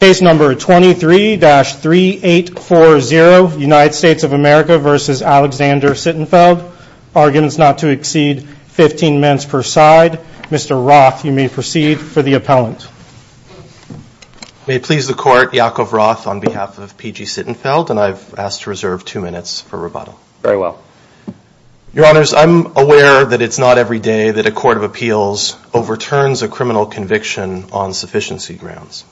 Case number 23-3840, United States of America versus Alexander Sittenfeld. Arguments not to exceed 15 minutes per side. Mr. Roth, you may proceed for the appellant. May it please the court, Yaakov Roth on behalf of P.G. Sittenfeld. And I've asked to reserve two minutes for rebuttal. Very well. Your honors, I'm aware that it's not every day that a court of appeals overturns a criminal conviction on sufficiency grounds.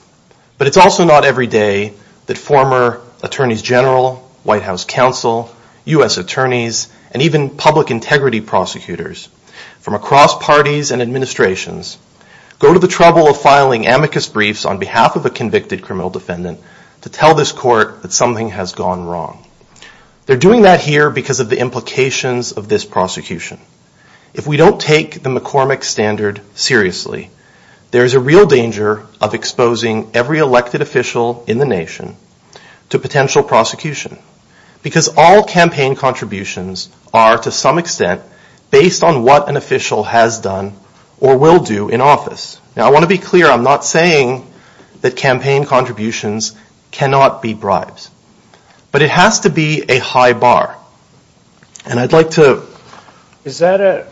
But it's also not every day that former attorneys general, White House counsel, U.S. attorneys, and even public integrity prosecutors from across parties and administrations go to the trouble of filing amicus briefs on behalf of a convicted criminal defendant to tell this court that something has gone wrong. They're doing that here because of the implications of this prosecution. If we don't take the McCormick standard seriously, there's a real danger of exposing every elected official in the nation to potential prosecution. Because all campaign contributions are, to some extent, based on what an official has done or will do in office. Now, I want to be clear, I'm not saying that campaign contributions cannot be bribes. But it has to be a high bar. And I'd like to... Is that a...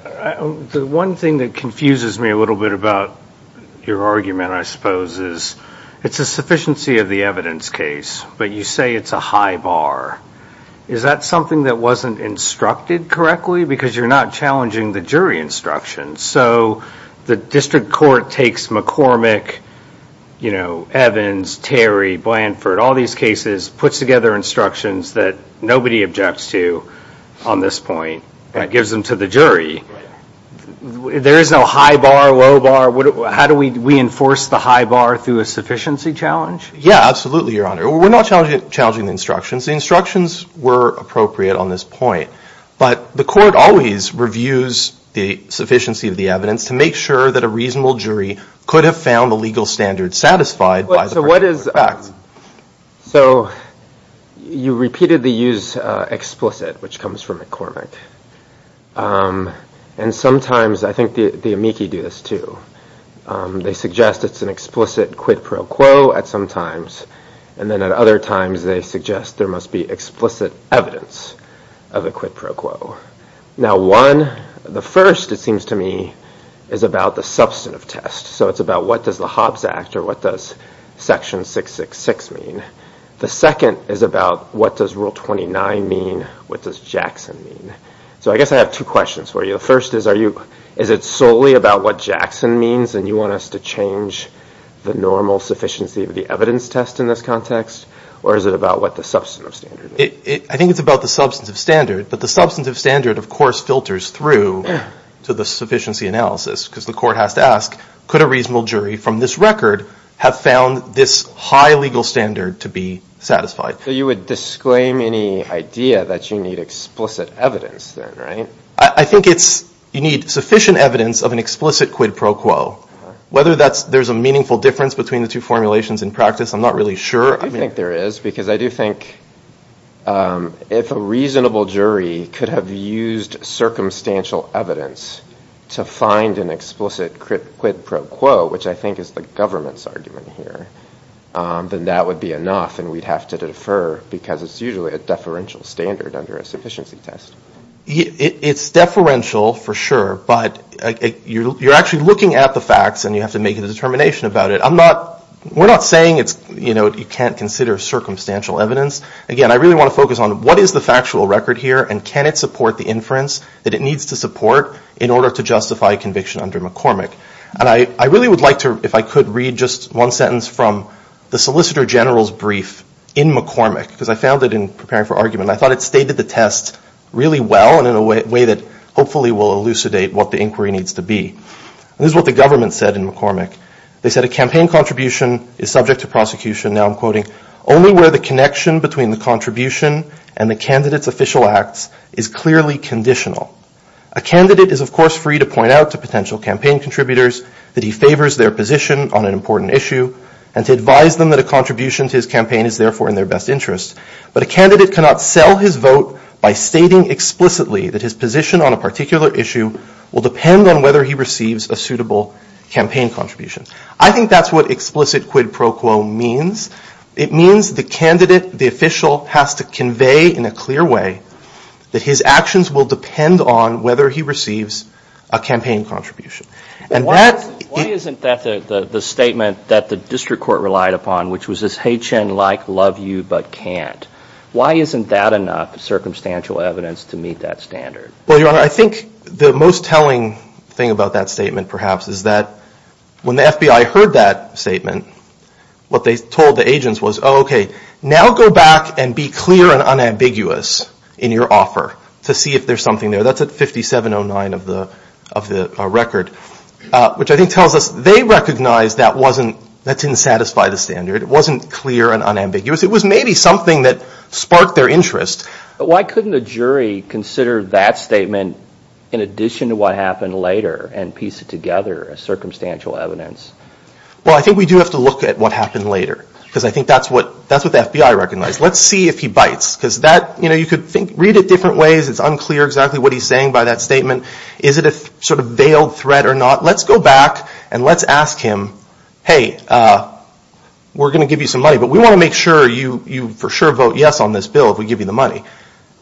The one thing that confuses me a little bit about your argument, I suppose, is it's a sufficiency of the evidence case. But you say it's a high bar. Is that something that wasn't instructed correctly? Because you're not challenging the jury instructions. So the district court takes McCormick, Evans, Terry, Blanford, all these cases, puts together instructions that nobody objects to on this point. And it gives them to the jury. There is no high bar, low bar. How do we enforce the high bar through a sufficiency challenge? Yeah, absolutely, Your Honor. We're not challenging the instructions. The instructions were appropriate on this point. But the court always reviews the sufficiency of the evidence to make sure that a reasonable jury could have found the legal standard satisfied by the person in effect. So you repeatedly use explicit, which comes from McCormick. And sometimes, I think the amici do this too. They suggest it's an explicit quid pro quo at some times. And then at other times, they suggest there must be explicit evidence of a quid pro quo. Now, one, the first, it seems to me, is about the substantive test. So it's about what does the Hobbs Act or what does Section 666 mean? The second is about what does Rule 29 mean? What does Jackson mean? So I guess I have two questions for you. The first is, is it solely about what Jackson means and you want us to change the normal sufficiency of the evidence test in this context? Or is it about what the substantive standard is? I think it's about the substantive standard. But the substantive standard, of course, filters through to the sufficiency analysis because the court has to ask, could a reasonable jury from this record have found this high legal standard to be satisfied? So you would disclaim any idea that you need explicit evidence there, right? I think you need sufficient evidence of an explicit quid pro quo. Whether there's a meaningful difference between the two formulations in practice, I'm not really sure. I think there is because I do think if a reasonable jury could have used circumstantial evidence to find an explicit quid pro quo, which I think is the government's argument here, then that would be enough and we'd have to defer because it's usually a deferential standard under a sufficiency test. It's deferential for sure, but you're actually looking at the facts and you have to make a determination about it. We're not saying you can't consider circumstantial evidence. Again, I really wanna focus on what is the factual record here and can it support the inference that it needs to support in order to justify conviction under McCormick? And I really would like to, if I could read just one sentence from the Solicitor General's brief in McCormick because I found it in preparing for argument. I thought it stated the test really well and in a way that hopefully will elucidate what the inquiry needs to be. This is what the government said in McCormick. They said a campaign contribution is subject to prosecution. Now I'm quoting, only where the connection between the contribution and the candidate's official acts is clearly conditional. A candidate is of course free to point out to potential campaign contributors that he favors their position on an important issue and to advise them that a contribution to his campaign is therefore in their best interest. But a candidate cannot sell his vote by stating explicitly that his position on a particular issue will depend on whether he receives a suitable campaign contribution. I think that's what explicit quid pro quo means. It means the candidate, the official has to convey in a clear way that his actions will depend on whether he receives a campaign contribution. Why isn't that the statement that the district court relied upon which was this, hey Chen, like, love you, but can't. Why isn't that enough circumstantial evidence to meet that standard? Well, your honor, I think the most telling thing about that statement perhaps is that when the FBI heard that statement, what they told the agents was, oh, okay, now go back and be clear and unambiguous in your offer to see if there's something there. That's at 5709 of the record, which I think tells us they recognized that didn't satisfy the standard. It wasn't clear and unambiguous. It was maybe something that sparked their interest. But why couldn't a jury consider that statement in addition to what happened later and piece it together as circumstantial evidence? Well, I think we do have to look at what happened later because I think that's what the FBI recognized. Let's see if he bites because you could read it different ways. It's unclear exactly what he's saying by that statement. Is it a sort of veiled threat or not? Let's go back and let's ask him, hey, we're going to give you some money, but we want to make sure you for sure vote yes on this bill if we give you the money.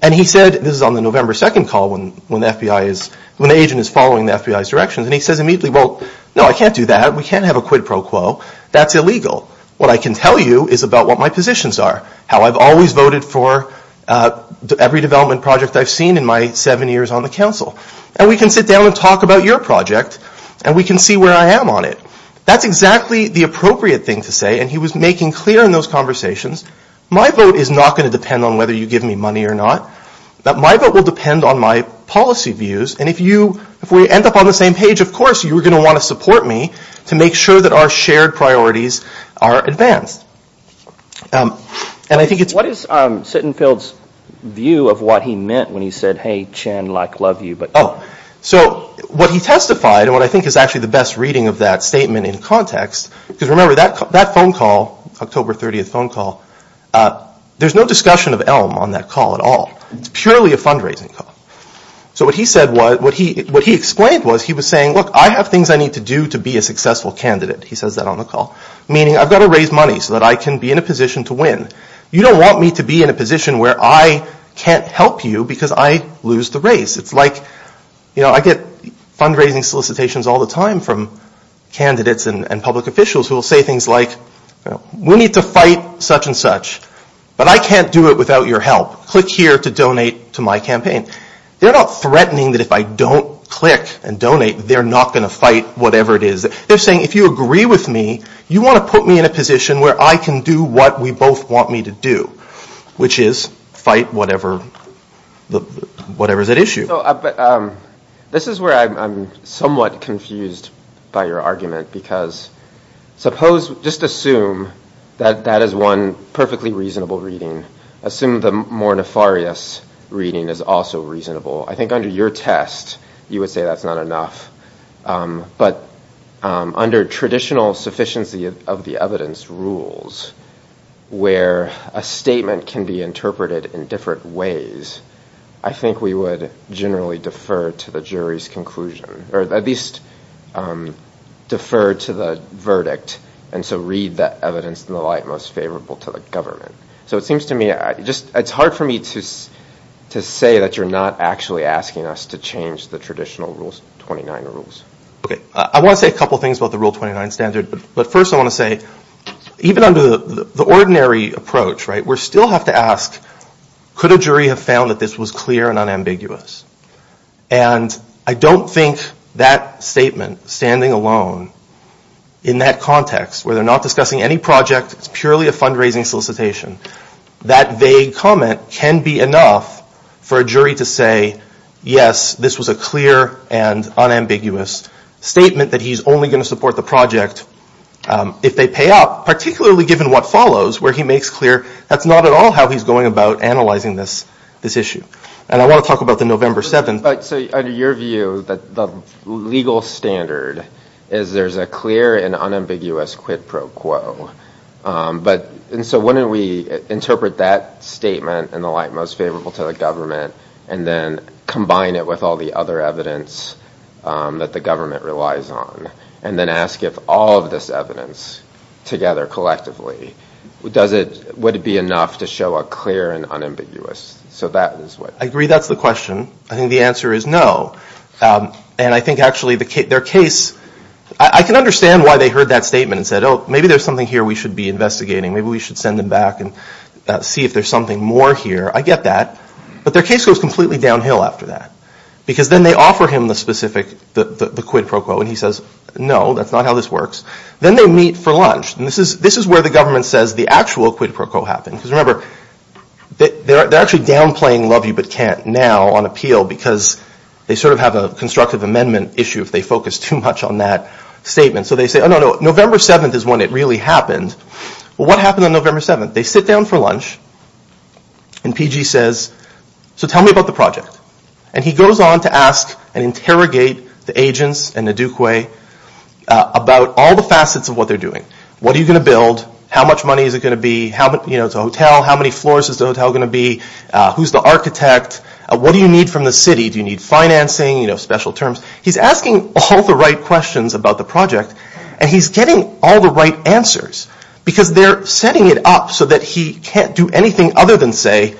And he said, this is on the November 2nd call when the agent is following the FBI's directions, and he says immediately, well, no, I can't do that. We can't have a quid pro quo. That's illegal. What I can tell you is about what my positions are, how I've always voted for every development project I've seen in my seven years on the council. And we can sit down and talk about your project and we can see where I am on it. That's exactly the appropriate thing to say, and he was making clear in those conversations, my vote is not going to depend on whether you give me money or not. My vote will depend on my policy views. And if we end up on the same page, of course you're going to want to support me to make sure that our shared priorities are advanced. And I think it's- Sittenfeld's view of what he meant when he said, hey, Chen, like, love you, but- Oh, so what he testified, and what I think is actually the best reading of that statement in context, because remember that phone call, October 30th phone call, there's no discussion of Elm on that call at all. It's purely a fundraising call. So what he said was, what he explained was, he was saying, look, I have things I need to do to be a successful candidate. He says that on the call. Meaning I've got to raise money so that I can be in a position to win. You don't want me to be in a position where I can't help you because I lose the race. It's like, you know, I get fundraising solicitations all the time from candidates and public officials who will say things like, we need to fight such and such, but I can't do it without your help. Click here to donate to my campaign. They're not threatening that if I don't click and donate, they're not going to fight whatever it is. They're saying, if you agree with me, you want to put me in a position where I can do what we both want me to do, which is fight whatever's at issue. This is where I'm somewhat confused by your argument because suppose, just assume that that is one perfectly reasonable reading. Assume the more nefarious reading is also reasonable. I think under your test, you would say that's not enough. But under traditional sufficiency of the evidence, where a statement can be interpreted in different ways, I think we would generally defer to the jury's conclusion or at least defer to the verdict. And so read that evidence in the light most favorable to the government. So it seems to me, it's hard for me to say that you're not actually asking us to change the traditional rules, 29 rules. Okay, I want to say a couple of things about the rule 29 standard. But first I want to say, even under the ordinary approach, we still have to ask, could a jury have found that this was clear and unambiguous? And I don't think that statement, standing alone in that context where they're not discussing any project, it's purely a fundraising solicitation, that vague comment can be enough for a jury to say, yes, this was a clear and unambiguous statement that he's only gonna support the project if they pay up, particularly given what follows, where he makes clear that's not at all how he's going about analyzing this issue. And I want to talk about the November 7th. But so under your view, the legal standard is there's a clear and unambiguous quid pro quo. And so wouldn't we interpret that statement in the light most favorable to the government and then combine it with all the other evidence that the government relies on and then ask if all of this evidence together collectively, would it be enough to show a clear and unambiguous? So that is what. I agree, that's the question. I think the answer is no. And I think actually their case, I can understand why they heard that statement and said, oh, maybe there's something here we should be investigating. Maybe we should send them back and see if there's something more here. I get that. But their case goes completely downhill after that because then they offer him the specific, the quid pro quo and he says, no, that's not how this works. Then they meet for lunch. And this is where the government says the actual quid pro quo happened. Because remember, they're actually downplaying love you but can't now on appeal because they sort of have a constructive amendment issue if they focus too much on that statement. So they say, oh no, no, November 7th is when it really happened. Well, what happened on November 7th? They sit down for lunch and PG says, so tell me about the project. And he goes on to ask and interrogate the agents and the duque about all the facets of what they're doing. What are you gonna build? How much money is it gonna be? How much, you know, it's a hotel. How many floors is the hotel gonna be? Who's the architect? What do you need from the city? Do you need financing, you know, special terms? He's asking all the right questions about the project and he's getting all the right answers because they're setting it up so that he can't do anything other than say,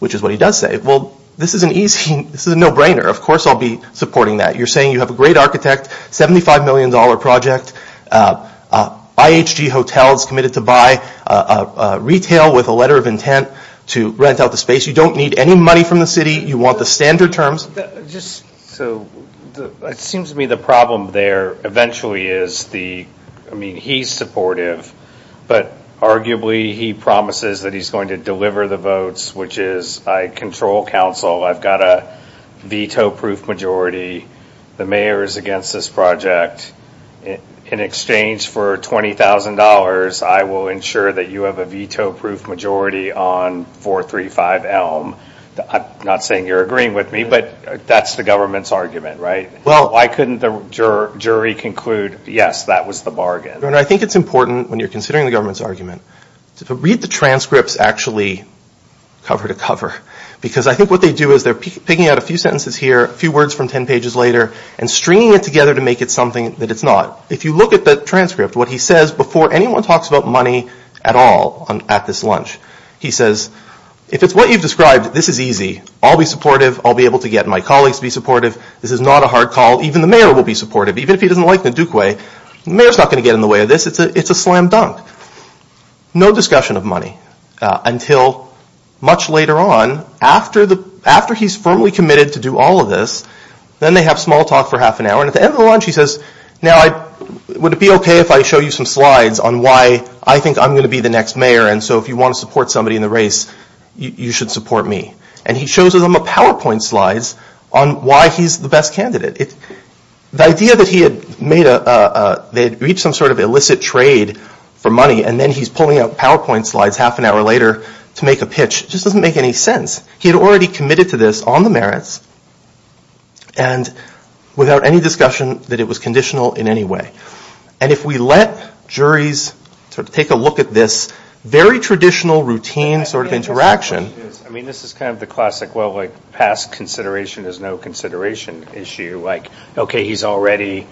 which is what he does say, well, this is an easy, this is a no-brainer. Of course I'll be supporting that. You're saying you have a great architect, $75 million project, IHG hotels committed to buy, retail with a letter of intent to rent out the space. You don't need any money from the city. You want the standard terms. Just so, it seems to me the problem there eventually is the, I mean, he's supportive, but arguably he promises that he's going to deliver the votes, which is I control council. I've got a veto-proof majority. The mayor is against this project. In exchange for $20,000, I will ensure that you have a veto-proof majority on 435 Elm. Not saying you're agreeing with me, but that's the government's argument, right? Why couldn't the jury conclude, yes, that was the bargain? I think it's important when you're considering the government's argument to read the transcripts actually cover to cover, because I think what they do is they're picking out a few sentences here, a few words from 10 pages later, and stringing it together to make it something that it's not. If you look at the transcript, what he says before anyone talks about money at all at this lunch, he says, if it's what you've described, this is easy. I'll be supportive. I'll be able to get my colleagues to be supportive. This is not a hard call. Even the mayor will be supportive. Even if he doesn't like the Duke way, the mayor's not going to get in the way of this. It's a slam dunk. No discussion of money until much later on, after he's firmly committed to do all of this, then they have small talk for half an hour. And at the end of the lunch, he says, now, would it be okay if I show you some slides on why I think I'm going to be the next mayor, and so if you want to support somebody in the race, you should support me. And he shows them a PowerPoint slides on why he's the best candidate. The idea that they had reached some sort of illicit trade for money and then he's pulling out PowerPoint slides half an hour later to make a pitch just doesn't make any sense. He had already committed to this on the merits and without any discussion that it was conditional in any way. And if we let juries sort of take a look at this very traditional routine sort of interaction. I mean, this is kind of the classic, well, like past consideration is no consideration issue. Like, okay, he's already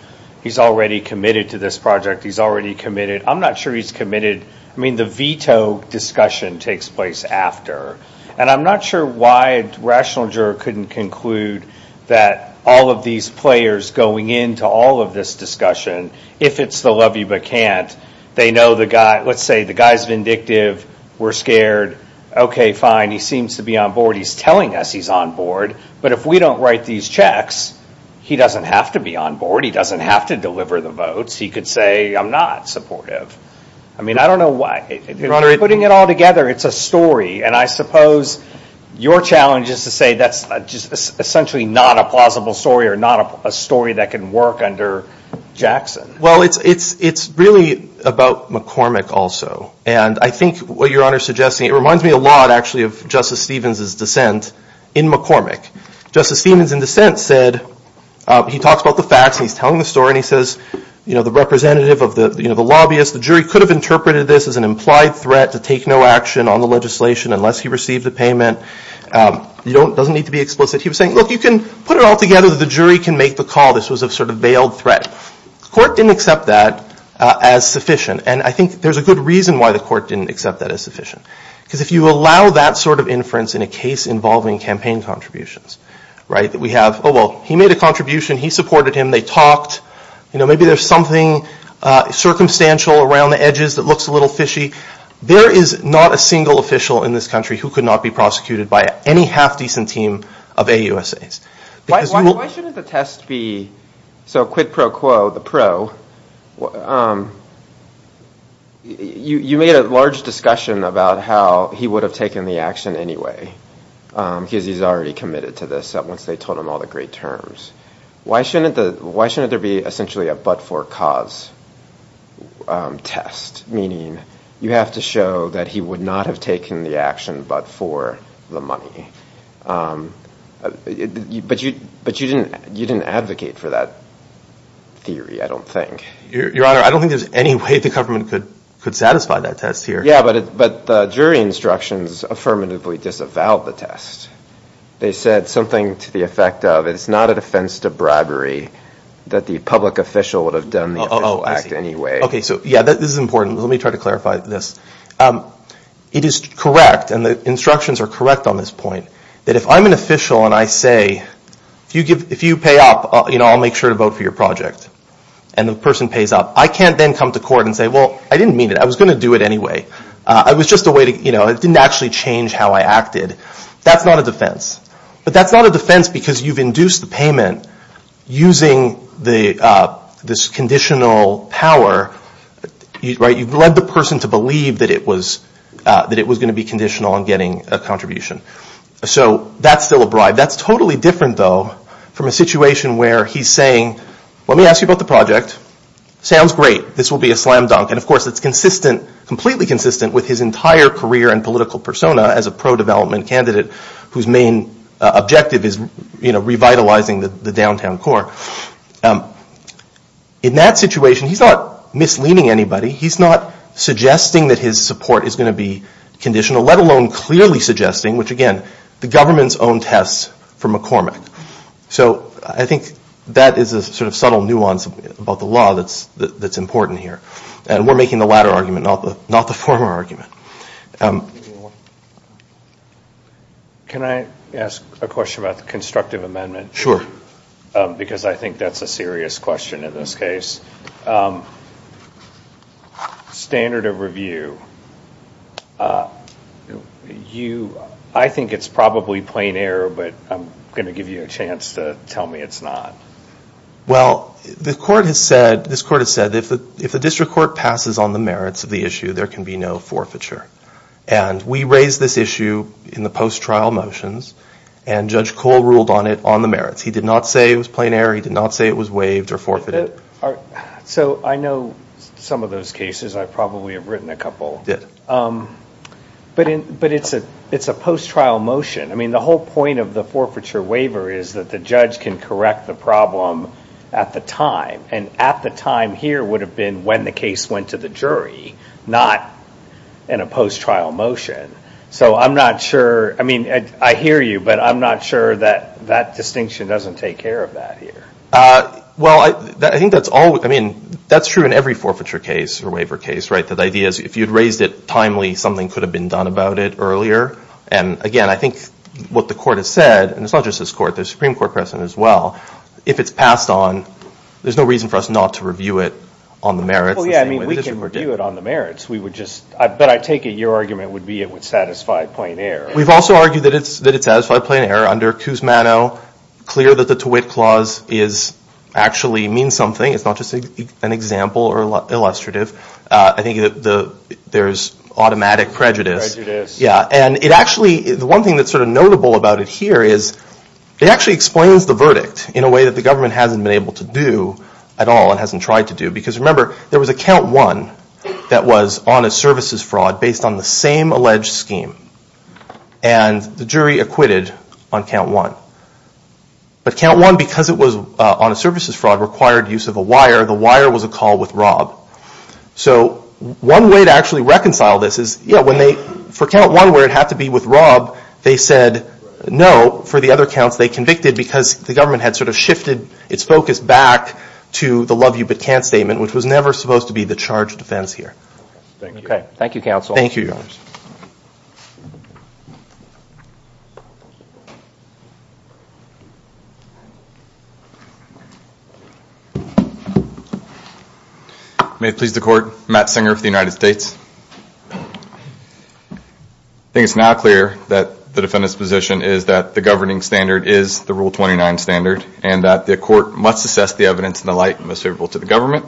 committed to this project. He's already committed. I'm not sure he's committed. I mean, the veto discussion takes place after. And I'm not sure why a rational juror couldn't conclude that all of these players going into all of this discussion, if it's the love you but can't, they know the guy, let's say the guy's vindictive. We're scared. Okay, fine, he seems to be on board. He's telling us he's on board, but if we don't write these checks, he doesn't have to be on board. He doesn't have to deliver the votes. He could say, I'm not supportive. I mean, I don't know why. Putting it all together, it's a story. And I suppose your challenge is to say that's just essentially not a plausible story or not a story that can work under Jackson. Well, it's really about McCormick also. And I think what Your Honor is suggesting, it reminds me a lot actually of Justice Stevens' dissent in McCormick. Justice Stevens in dissent said, he talks about the facts and he's telling the story and he says, the representative of the lobbyist, the jury could have interpreted this as an implied threat to take no action on the legislation unless he received a payment. It doesn't need to be explicit. He was saying, look, you can put it all together that the jury can make the call. This was a sort of veiled threat. Court didn't accept that as sufficient. And I think there's a good reason why the court didn't accept that as sufficient. Because if you allow that sort of inference in a case involving campaign contributions, right? We have, oh, well, he made a contribution. He supported him. They talked. Maybe there's something circumstantial around the edges that looks a little fishy. There is not a single official in this country who could not be prosecuted by any half-decent team of AUSAs. Why shouldn't the test be, so quid pro quo, the pro, you made a large discussion about how he would have taken the action anyway because he's already committed to this once they told him all the great terms. Why shouldn't there be essentially a but-for-cause test? Meaning you have to show that he would not have taken the action but for the money. But you didn't advocate for that theory, I don't think. Your Honor, I don't think there's any way the government could satisfy that test here. Yeah, but the jury instructions affirmatively disavowed the test. They said something to the effect of, it's not a defense to bribery, that the public official would have done the official act anyway. OK, so yeah, this is important. Let me try to clarify this. It is correct, and the instructions are correct on this point, that if I'm an official and I say, if you pay up, I'll make sure to vote for your project. And the person pays up. I can't then come to court and say, well, I didn't mean it. I was going to do it anyway. It was just a way to, it didn't actually change how I acted. That's not a defense. But that's not a defense, because you've induced the payment using this conditional power. You've led the person to believe that it was going to be conditional on getting a contribution. So that's still a bribe. That's totally different, though, from a situation where he's saying, let me ask you about the project. Sounds great. This will be a slam dunk. And of course, it's completely consistent with his entire career and political persona as a pro-development candidate whose main objective is revitalizing the downtown core. In that situation, he's not misleading anybody. He's not suggesting that his support is going to be conditional, let alone clearly suggesting, which again, the government's own tests for McCormick. So I think that is a sort of subtle nuance about the law that's important here. And we're making the latter argument, not the former argument. Can I ask a question about the constructive amendment? Because I think that's a serious question in this case. Standard of review. I think it's probably plain error, but I'm going to give you a chance to tell me it's not. Well, this court has said, if the district court passes on the merits of the issue, there can be no forfeiture. And we raised this issue in the post-trial motions, and Judge Cole ruled on it on the merits. He did not say it was plain error. He did not say it was waived or forfeited. So I know some of those cases. I probably have written a couple. You did. But it's a post-trial motion. I mean, the whole point of the forfeiture waiver is that the judge can correct the problem at the time. And at the time here would have been when the case went to the jury, not in a post-trial motion. So I'm not sure. I mean, I hear you, but I'm not sure that that distinction doesn't take care of that here. Well, I think that's all. I mean, that's true in every forfeiture case or waiver case. The idea is, if you'd raised it timely, something could have been done about it earlier. And again, I think what the court has said, and it's not just this court. There's a Supreme Court precedent as well. If it's passed on, there's no reason for us not to review it on the merits. Well, yeah, I mean, we can review it on the merits. But I take it your argument would be it would satisfy plain error. We've also argued that it would satisfy plain error under Kuzmano. Clear that the Tewitt Clause actually means something. It's not just an example or illustrative. I think there's automatic prejudice. Yeah, and it actually, the one thing that's sort of notable about it here is it actually explains the verdict in a way that the government hasn't been able to do at all and hasn't tried to do. Because remember, there was a count one that was on a services fraud based on the same alleged scheme. And the jury acquitted on count one. But count one, because it was on a services fraud, required use of a wire. The wire was a call with Rob. So one way to actually reconcile this is, for count one, where it had to be with Rob, they said no for the other counts. They convicted because the government had sort of shifted its focus back to the love you but can't statement, which was never supposed to be the charge of defense here. OK, thank you, counsel. Thank you, your honors. May it please the court, Matt Singer for the United States. I think it's now clear that the defendant's position is that the governing standard is the Rule 29 standard and that the court must assess the evidence in the light most favorable to the government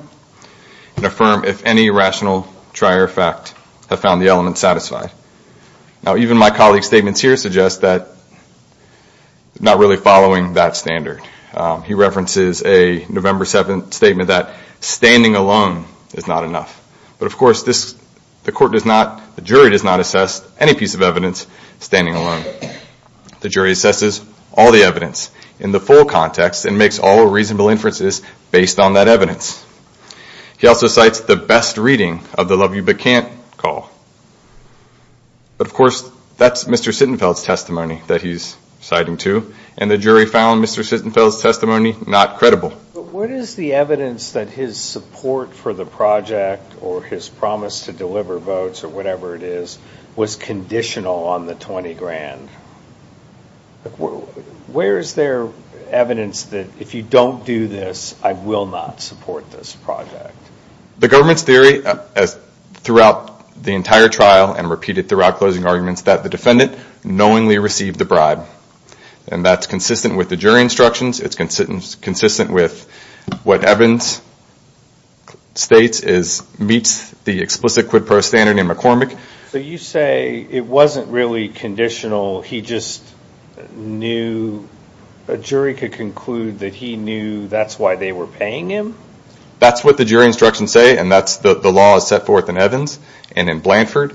and affirm if any rational trier fact have found the element satisfied. Now, even my colleague's statements here suggest that not really following that standard. He references a November 7 statement that standing alone is not enough. But of course, the jury does not assess any piece of evidence standing alone. The jury assesses all the evidence in the full context and makes all reasonable inferences based on that evidence. He also cites the best reading of the love you but can't call. But of course, that's Mr. Sittenfeld's testimony that he's citing too. And the jury found Mr. Sittenfeld's testimony not credible. What is the evidence that his support for the project or his promise to deliver votes or whatever it is was conditional on the $20,000? Where is there evidence that if you don't do this, I will not support this project? The government's theory throughout the entire trial and repeated throughout closing arguments that the defendant knowingly received the bribe. And that's consistent with the jury instructions. It's consistent with what Evans states is meets the explicit quid pro standard in McCormick. So you say it wasn't really conditional. He just knew a jury could conclude that he knew that's why they were paying him? That's what the jury instructions say. And that's the law is set forth in Evans and in Blanford.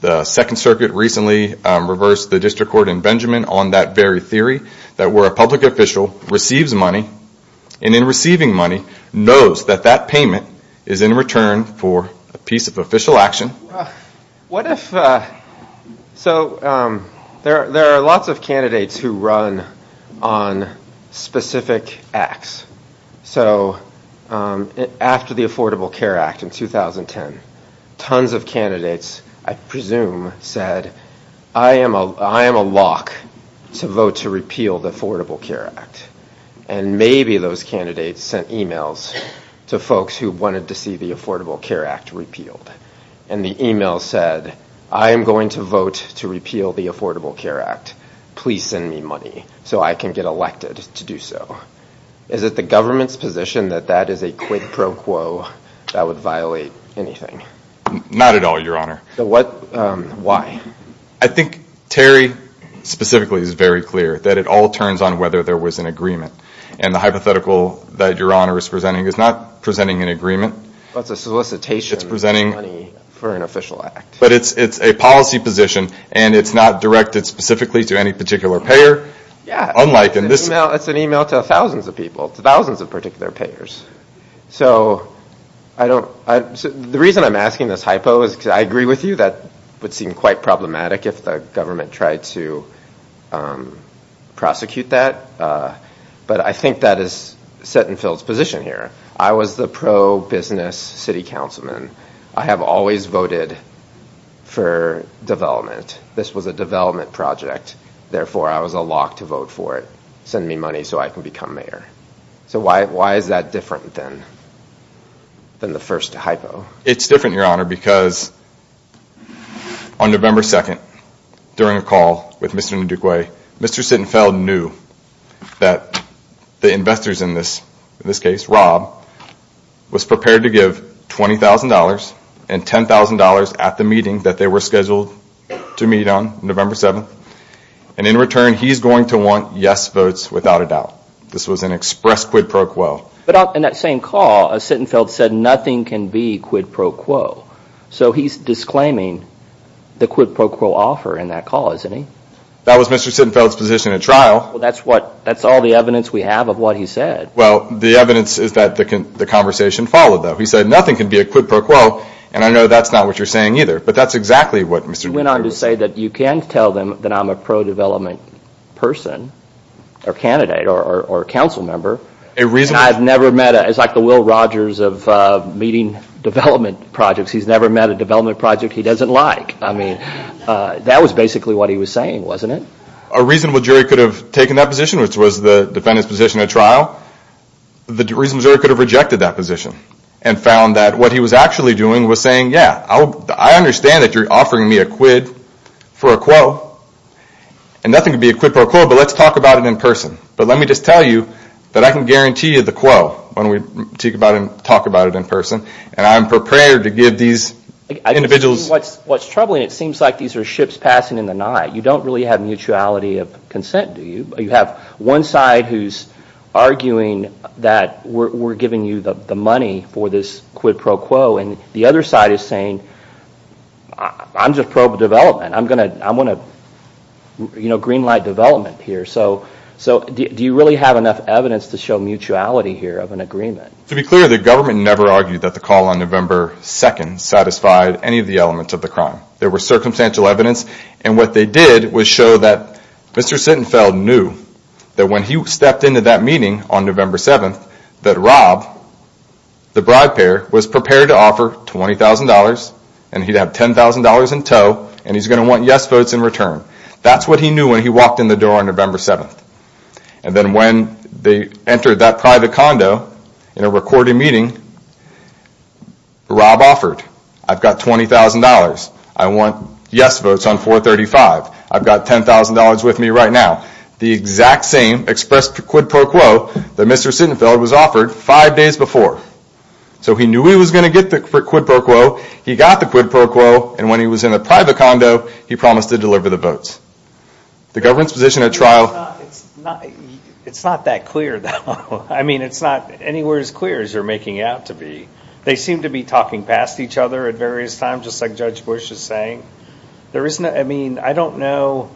The Second Circuit recently reversed the district court in Benjamin on that very theory that where a public official receives money and in receiving money knows that that payment is in return for a piece of official action. What if, so there are lots of candidates who run on specific acts. So after the Affordable Care Act in 2010, tons of candidates, I presume, said, I am a lock to vote to repeal the Affordable Care Act. And maybe those candidates sent emails to folks who wanted to see the Affordable Care Act repealed. And the email said, I am going to vote to repeal the Affordable Care Act. Please send me money so I can get elected to do so. Is it the government's position that that is a quid pro quo that would violate anything? Not at all, Your Honor. Why? I think Terry specifically is very clear that it all turns on whether there was an agreement. And the hypothetical that Your Honor is presenting is not presenting an agreement. It's a solicitation of money for an official act. But it's a policy position. And it's not directed specifically to any particular payer, unlike in this case. It's an email to thousands of people, to thousands of particular payers. So the reason I'm asking this hypo is because I agree with you that would seem quite problematic if the government tried to prosecute that. But I think that is Setonfield's position here. I was the pro-business city councilman. I have always voted for development. This was a development project. Therefore, I was a lock to vote for it. Send me money so I can become mayor. So why is that different than the first hypo? It's different, Your Honor, because on November 2nd, during a call with Mr. Nduguay, Mr. Setonfield knew that the investors in this case, Rob, was prepared to give $20,000 and $10,000 at the meeting that they were scheduled to meet on November 7th. And in return, he's going to want yes votes without a doubt. This was an express quid pro quo. But in that same call, Setonfield said nothing can be quid pro quo. So he's disclaiming the quid pro quo offer in that call, isn't he? That was Mr. Setonfield's position at trial. Well, that's all the evidence we have of what he said. Well, the evidence is that the conversation followed, though. He said nothing can be a quid pro quo. And I know that's not what you're saying either. But that's exactly what Mr. Nduguay said. He went on to say that you can tell them that I'm a pro-development person, or candidate, or council member. I've never met a, it's like the Will Rogers of meeting development projects. He's never met a development project he doesn't like. I mean, that was basically what he was saying, wasn't it? A reasonable jury could have taken that position, which was the defendant's position at trial. The reasonable jury could have rejected that position and found that what he was actually doing was saying, yeah, I understand that you're offering me a quid for a quo. And nothing can be a quid pro quo, but let's talk about it in person. But let me just tell you that I can guarantee you the quo when we talk about it in person. And I'm prepared to give these individuals. What's troubling, it seems like these are ships passing in the night. You don't really have mutuality of consent, do you? You have one side who's arguing that we're giving you the money for this quid pro quo. And the other side is saying, I'm just pro-development. I'm going to green light development here. So do you really have enough evidence to show mutuality here of an agreement? To be clear, the government never argued that the call on November 2nd satisfied any of the elements of the crime. There were circumstantial evidence. And what they did was show that Mr. Sittenfeld knew that when he stepped into that meeting on November 7th, that Rob, the bride pair, was prepared to offer $20,000. And he'd have $10,000 in tow. And he's going to want yes votes in return. That's what he knew when he walked in the door on November 7th. And then when they entered that private condo in a recorded meeting, Rob offered, I've got $20,000. I want yes votes on 435. I've got $10,000 with me right now. The exact same expressed quid pro quo that Mr. Sittenfeld was offered five days before. So he knew he was going to get the quid pro quo. He got the quid pro quo. And when he was in a private condo, he promised to deliver the votes. The government's position at trial. It's not that clear, though. I mean, it's not anywhere as clear as you're making out to be. They seem to be talking past each other at various times, just like Judge Bush is saying. There isn't a, I mean, I don't know.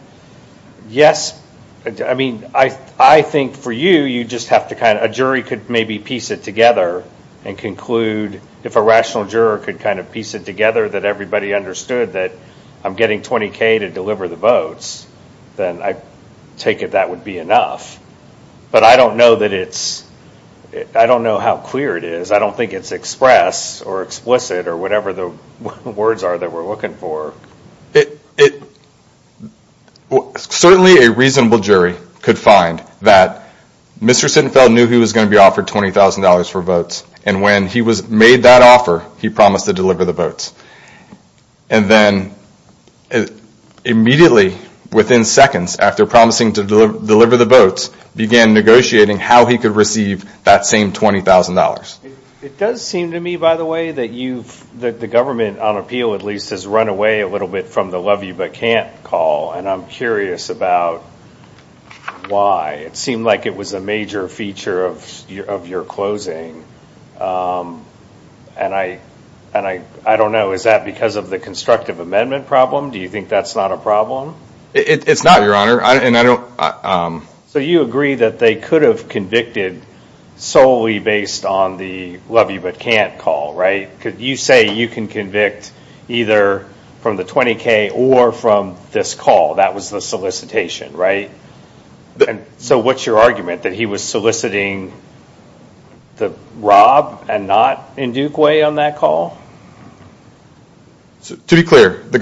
Yes, I mean, I think for you, you just have to kind of, a jury could maybe piece it together and conclude, if a rational juror could kind of piece it together, that everybody understood that I'm getting 20K to deliver the votes, then I take it that would be enough. But I don't know that it's, I don't know how clear it is. I don't think it's expressed or explicit or whatever the words are that we're looking for. Certainly a reasonable jury could find that Mr. Sittenfeld knew he was going to be offered $20,000 for votes. And when he made that offer, he promised to deliver the votes. And then immediately, within seconds, after promising to deliver the votes, began negotiating how he could receive that same $20,000. It does seem to me, by the way, that you've, that the government, on appeal at least, has run away a little bit from the love you but can't call. And I'm curious about why. It seemed like it was a major feature of your closing. And I don't know, is that because of the constructive amendment problem? Do you think that's not a problem? It's not, Your Honor. So you agree that they could have convicted solely based on the love you but can't call, right? Because you say you can convict either from the 20K or from this call. That was the solicitation, right? So what's your argument, that he was soliciting to rob and not in Duke way on that call? To be clear, the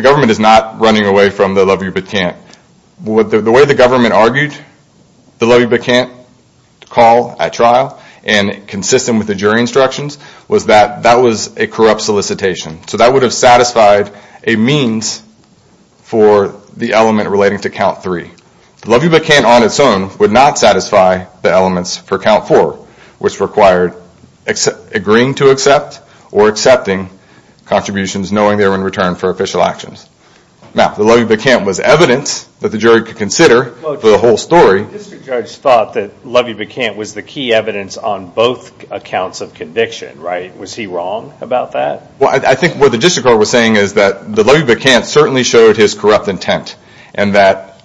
government is not running away from the love you but can't. The way the government argued the love you but can't call at trial, and consistent with the jury instructions, was that that was a corrupt solicitation. So that would have satisfied a means for the element relating to count three. The love you but can't on its own would not satisfy the elements for count four, which required agreeing to accept or accepting contributions knowing they were in return for official actions. Now, the love you but can't was evidence that the jury could consider for the whole story. The district judge thought that love you but can't was the key evidence on both accounts of conviction, right? Was he wrong about that? Well, I think what the district court was saying is that the love you but can't certainly showed his corrupt intent. And that,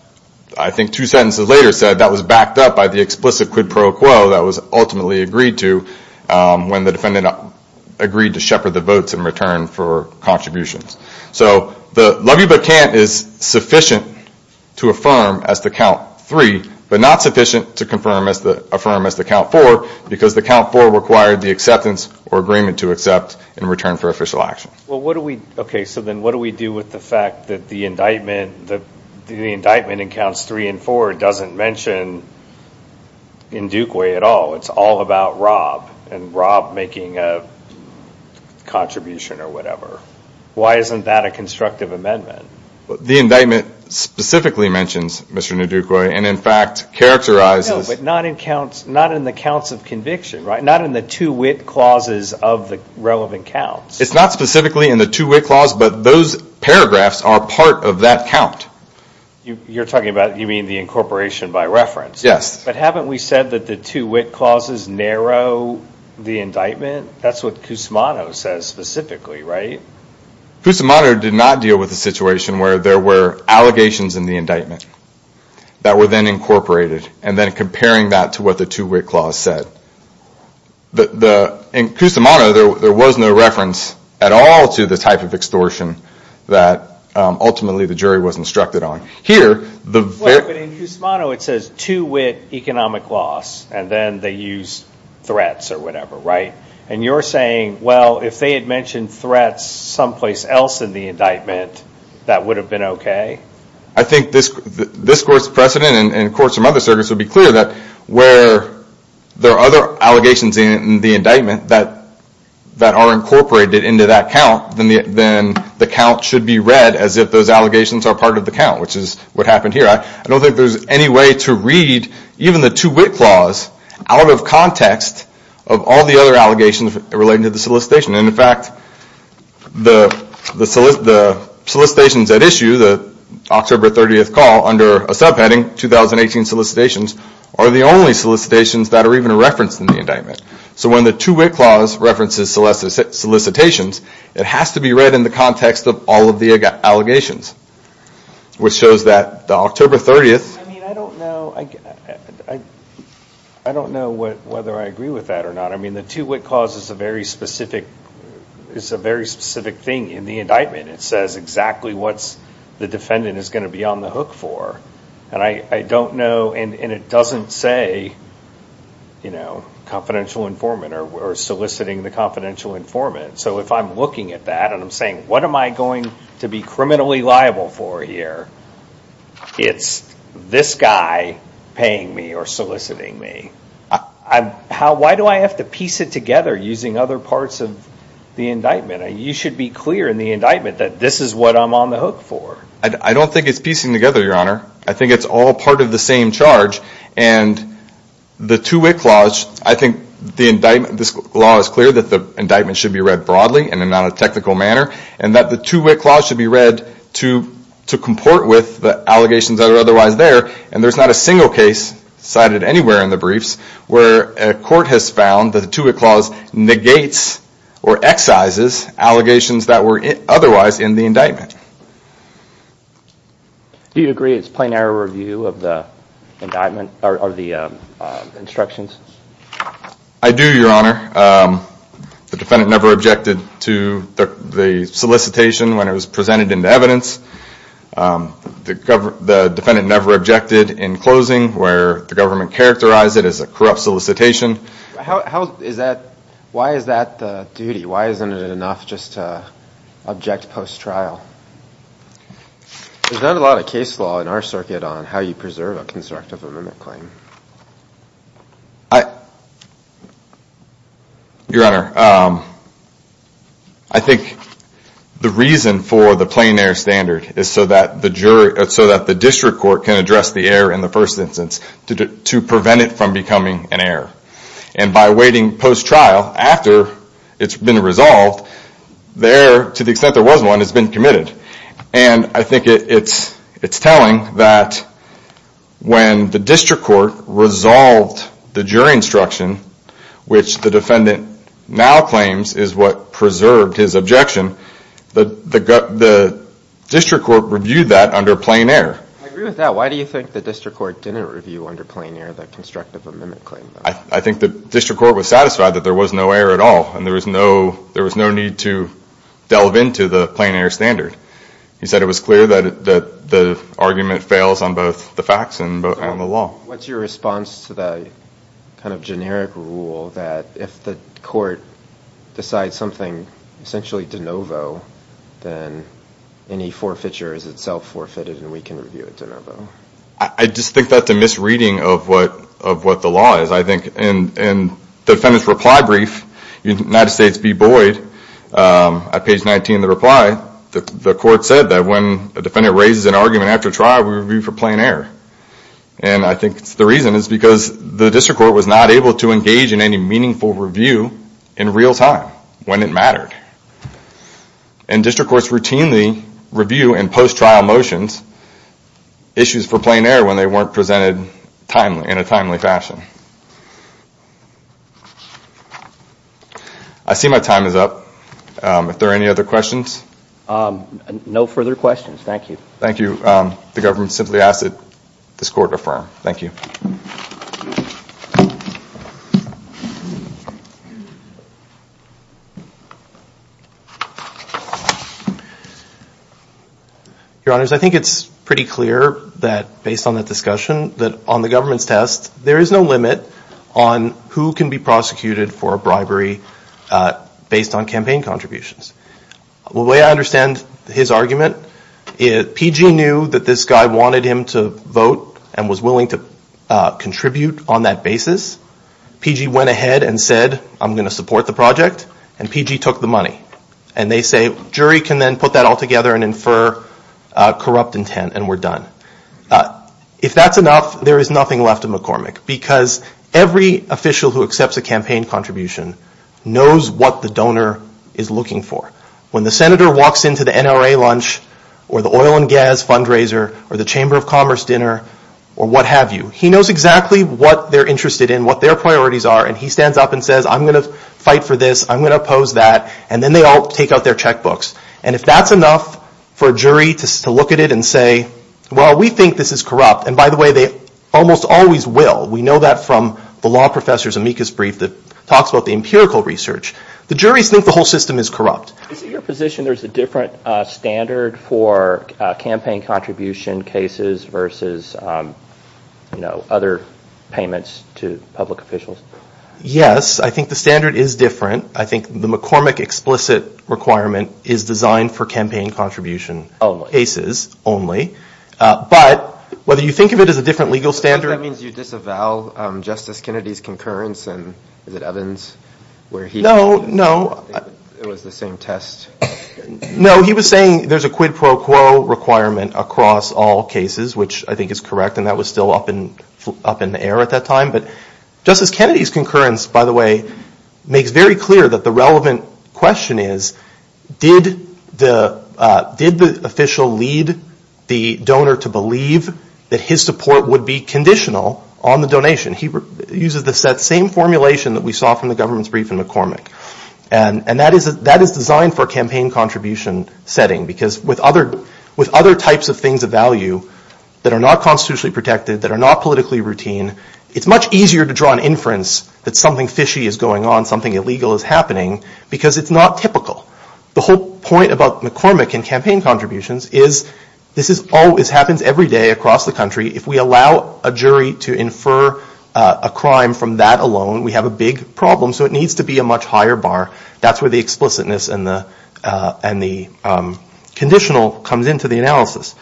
I think two sentences later, said that was backed up by the explicit quid pro quo that was ultimately agreed to when the defendant agreed to shepherd the votes in return for contributions. So the love you but can't is sufficient to affirm as to count three, but not sufficient to affirm as to count four, because the count four required the acceptance or agreement to accept in return for official action. OK, so then what do we do with the fact that the indictment in counts three and four doesn't mention Ndukwe at all? It's all about Rob and Rob making a contribution or whatever. Why isn't that a constructive amendment? The indictment specifically mentions Mr. Ndukwe and, in fact, characterizes. No, but not in the counts of conviction, right? Not in the two wit clauses of the relevant counts. It's not specifically in the two wit clause, but those paragraphs are part of that count. You're talking about, you mean, the incorporation by reference? But haven't we said that the two wit clauses narrow the indictment? That's what Cusimano says specifically, right? Cusimano did not deal with a situation where there were allegations in the indictment that were then incorporated, and then comparing that to what the two wit clause said. In Cusimano, there was no reference at all to the type of extortion that, ultimately, the jury was instructed on. Here, the very- But in Cusimano, it says two wit economic loss, and then they use threats or whatever, right? And you're saying, well, if they had mentioned threats someplace else in the indictment, that would have been OK? I think this court's precedent and, of course, some other circuits would be clear that where there are other allegations in the indictment that are incorporated into that count, then the count should be read as if those allegations are part of the count, which is what happened here. I don't think there's any way to read even the two wit clause out of context of all the other allegations relating to the solicitation. And in fact, the solicitations at issue, the October 30th call, under a subheading, 2018 solicitations, are the only solicitations that are even referenced in the indictment. So when the two wit clause references solicitations, it has to be read in the context of all of the allegations, which shows that the October 30th. I mean, I don't know whether I agree with that or not. I mean, the two wit clause is a very specific thing in the indictment. It says exactly what the defendant is going to be on the hook for. And I don't know, and it doesn't say confidential informant or soliciting the confidential informant. So if I'm looking at that and I'm saying, what am I going to be criminally liable for here? It's this guy paying me or soliciting me. Why do I have to piece it together using other parts of the indictment? You should be clear in the indictment that this is what I'm on the hook for. I don't think it's piecing together, Your Honor. I think it's all part of the same charge. And the two wit clause, I think the indictment, this law is clear that the indictment should be read broadly and in a non-technical manner, and that the two wit clause should be read to comport with the allegations that are otherwise there. And there's not a single case cited anywhere in the briefs where a court has found that the two wit clause negates or excises allegations that were otherwise in the indictment. Do you agree it's plain error review of the instructions? I do, Your Honor. The defendant never objected to the solicitation when it was presented into evidence. The defendant never objected in closing where the government characterized it as a corrupt solicitation. Why is that the duty? Why isn't it enough just to object post-trial? There's not a lot of case law in our circuit on how you preserve a constructive amendment claim. Your Honor, I think the reason for the plain error standard is so that the district court can address the error in the first instance to prevent it from becoming an error. And by waiting post-trial after it's been resolved, the error, to the extent there was one, has been committed. And I think it's telling that when the district court resolved the jury instruction, which the defendant now claims is what preserved his objection, the district court reviewed that under plain error. I agree with that. Why do you think the district court didn't review under plain error the constructive amendment claim? I think the district court was satisfied that there was no error at all. And there was no need to delve into the plain error standard. He said it was clear that the argument fails on both the facts and the law. What's your response to the kind of generic rule that if the court decides something essentially de novo, then any forfeiture is itself forfeited and we can review it de novo? I just think that's a misreading of what the law is, I think. In the defendant's reply brief, United States v. Boyd, at page 19 of the reply, the court said that when a defendant raises an argument after trial, we review for plain error. And I think the reason is because the district court was not able to engage in any meaningful review in real time when it mattered. And district courts routinely review in post-trial motions issues for plain error when they weren't presented in a timely fashion. I see my time is up. If there are any other questions? No further questions. Thank you. Thank you. The government simply asked that this court affirm. Thank you. Your Honors, I think it's pretty clear that based on that discussion that on the government's test, there is no limit on who can be prosecuted for bribery based on campaign contributions. The way I understand his argument, PG knew that this guy wanted him to vote and was willing to contribute on that basis. PG went ahead and said, I'm going to support the project. And PG took the money. And they say, jury can then put that all together and infer corrupt intent. And we're done. If that's enough, there is nothing left of McCormick. Because every official who accepts a campaign contribution knows what the donor is looking for. When the senator walks into the NRA lunch, or the oil and gas fundraiser, or the Chamber of Commerce dinner, or what have you, he knows exactly what they're interested in, what their priorities are. And he stands up and says, I'm going to fight for this. I'm going to oppose that. And then they all take out their checkbooks. And if that's enough for a jury to look at it and say, well, we think this is corrupt. And by the way, they almost always will. We know that from the law professor's amicus brief that talks about the empirical research. The juries think the whole system is corrupt. Is it your position there's a different standard for campaign contribution cases versus other payments to public officials? Yes. I think the standard is different. I think the McCormick explicit requirement is designed for campaign contribution cases only. But whether you think of it as a different legal standard. That means you disavow Justice Kennedy's concurrence. And is it Evans where he said it was the same test? No, he was saying there's a quid pro quo requirement across all cases, which I think is correct. And that was still up in the air at that time. But Justice Kennedy's concurrence, by the way, makes very clear that the relevant question is did the official lead the donor to believe that his support would be conditional on the donation? He uses the same formulation that we saw from the government's brief in McCormick. And that is designed for a campaign contribution setting. Because with other types of things of value that are not constitutionally protected, that are not politically routine, it's much easier to draw an inference that something fishy is going on, something illegal is happening. Because it's not typical. The whole point about McCormick and campaign contributions is this happens every day across the country. If we allow a jury to infer a crime from that alone, we have a big problem. So it needs to be a much higher bar. That's where the explicitness and the conditional comes into the analysis.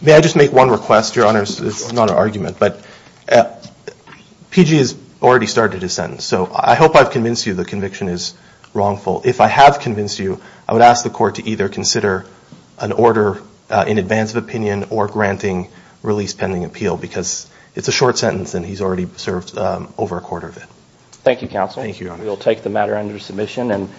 May I just make one request, Your Honors? It's not an argument. But PG has already started his sentence. So I hope I've convinced you the conviction is wrongful. If I have convinced you, I would ask the court to either consider an order in advance of opinion or granting release pending appeal. Because it's a short sentence, and he's already served over a quarter of it. Thank you, counsel. We will take the matter under submission.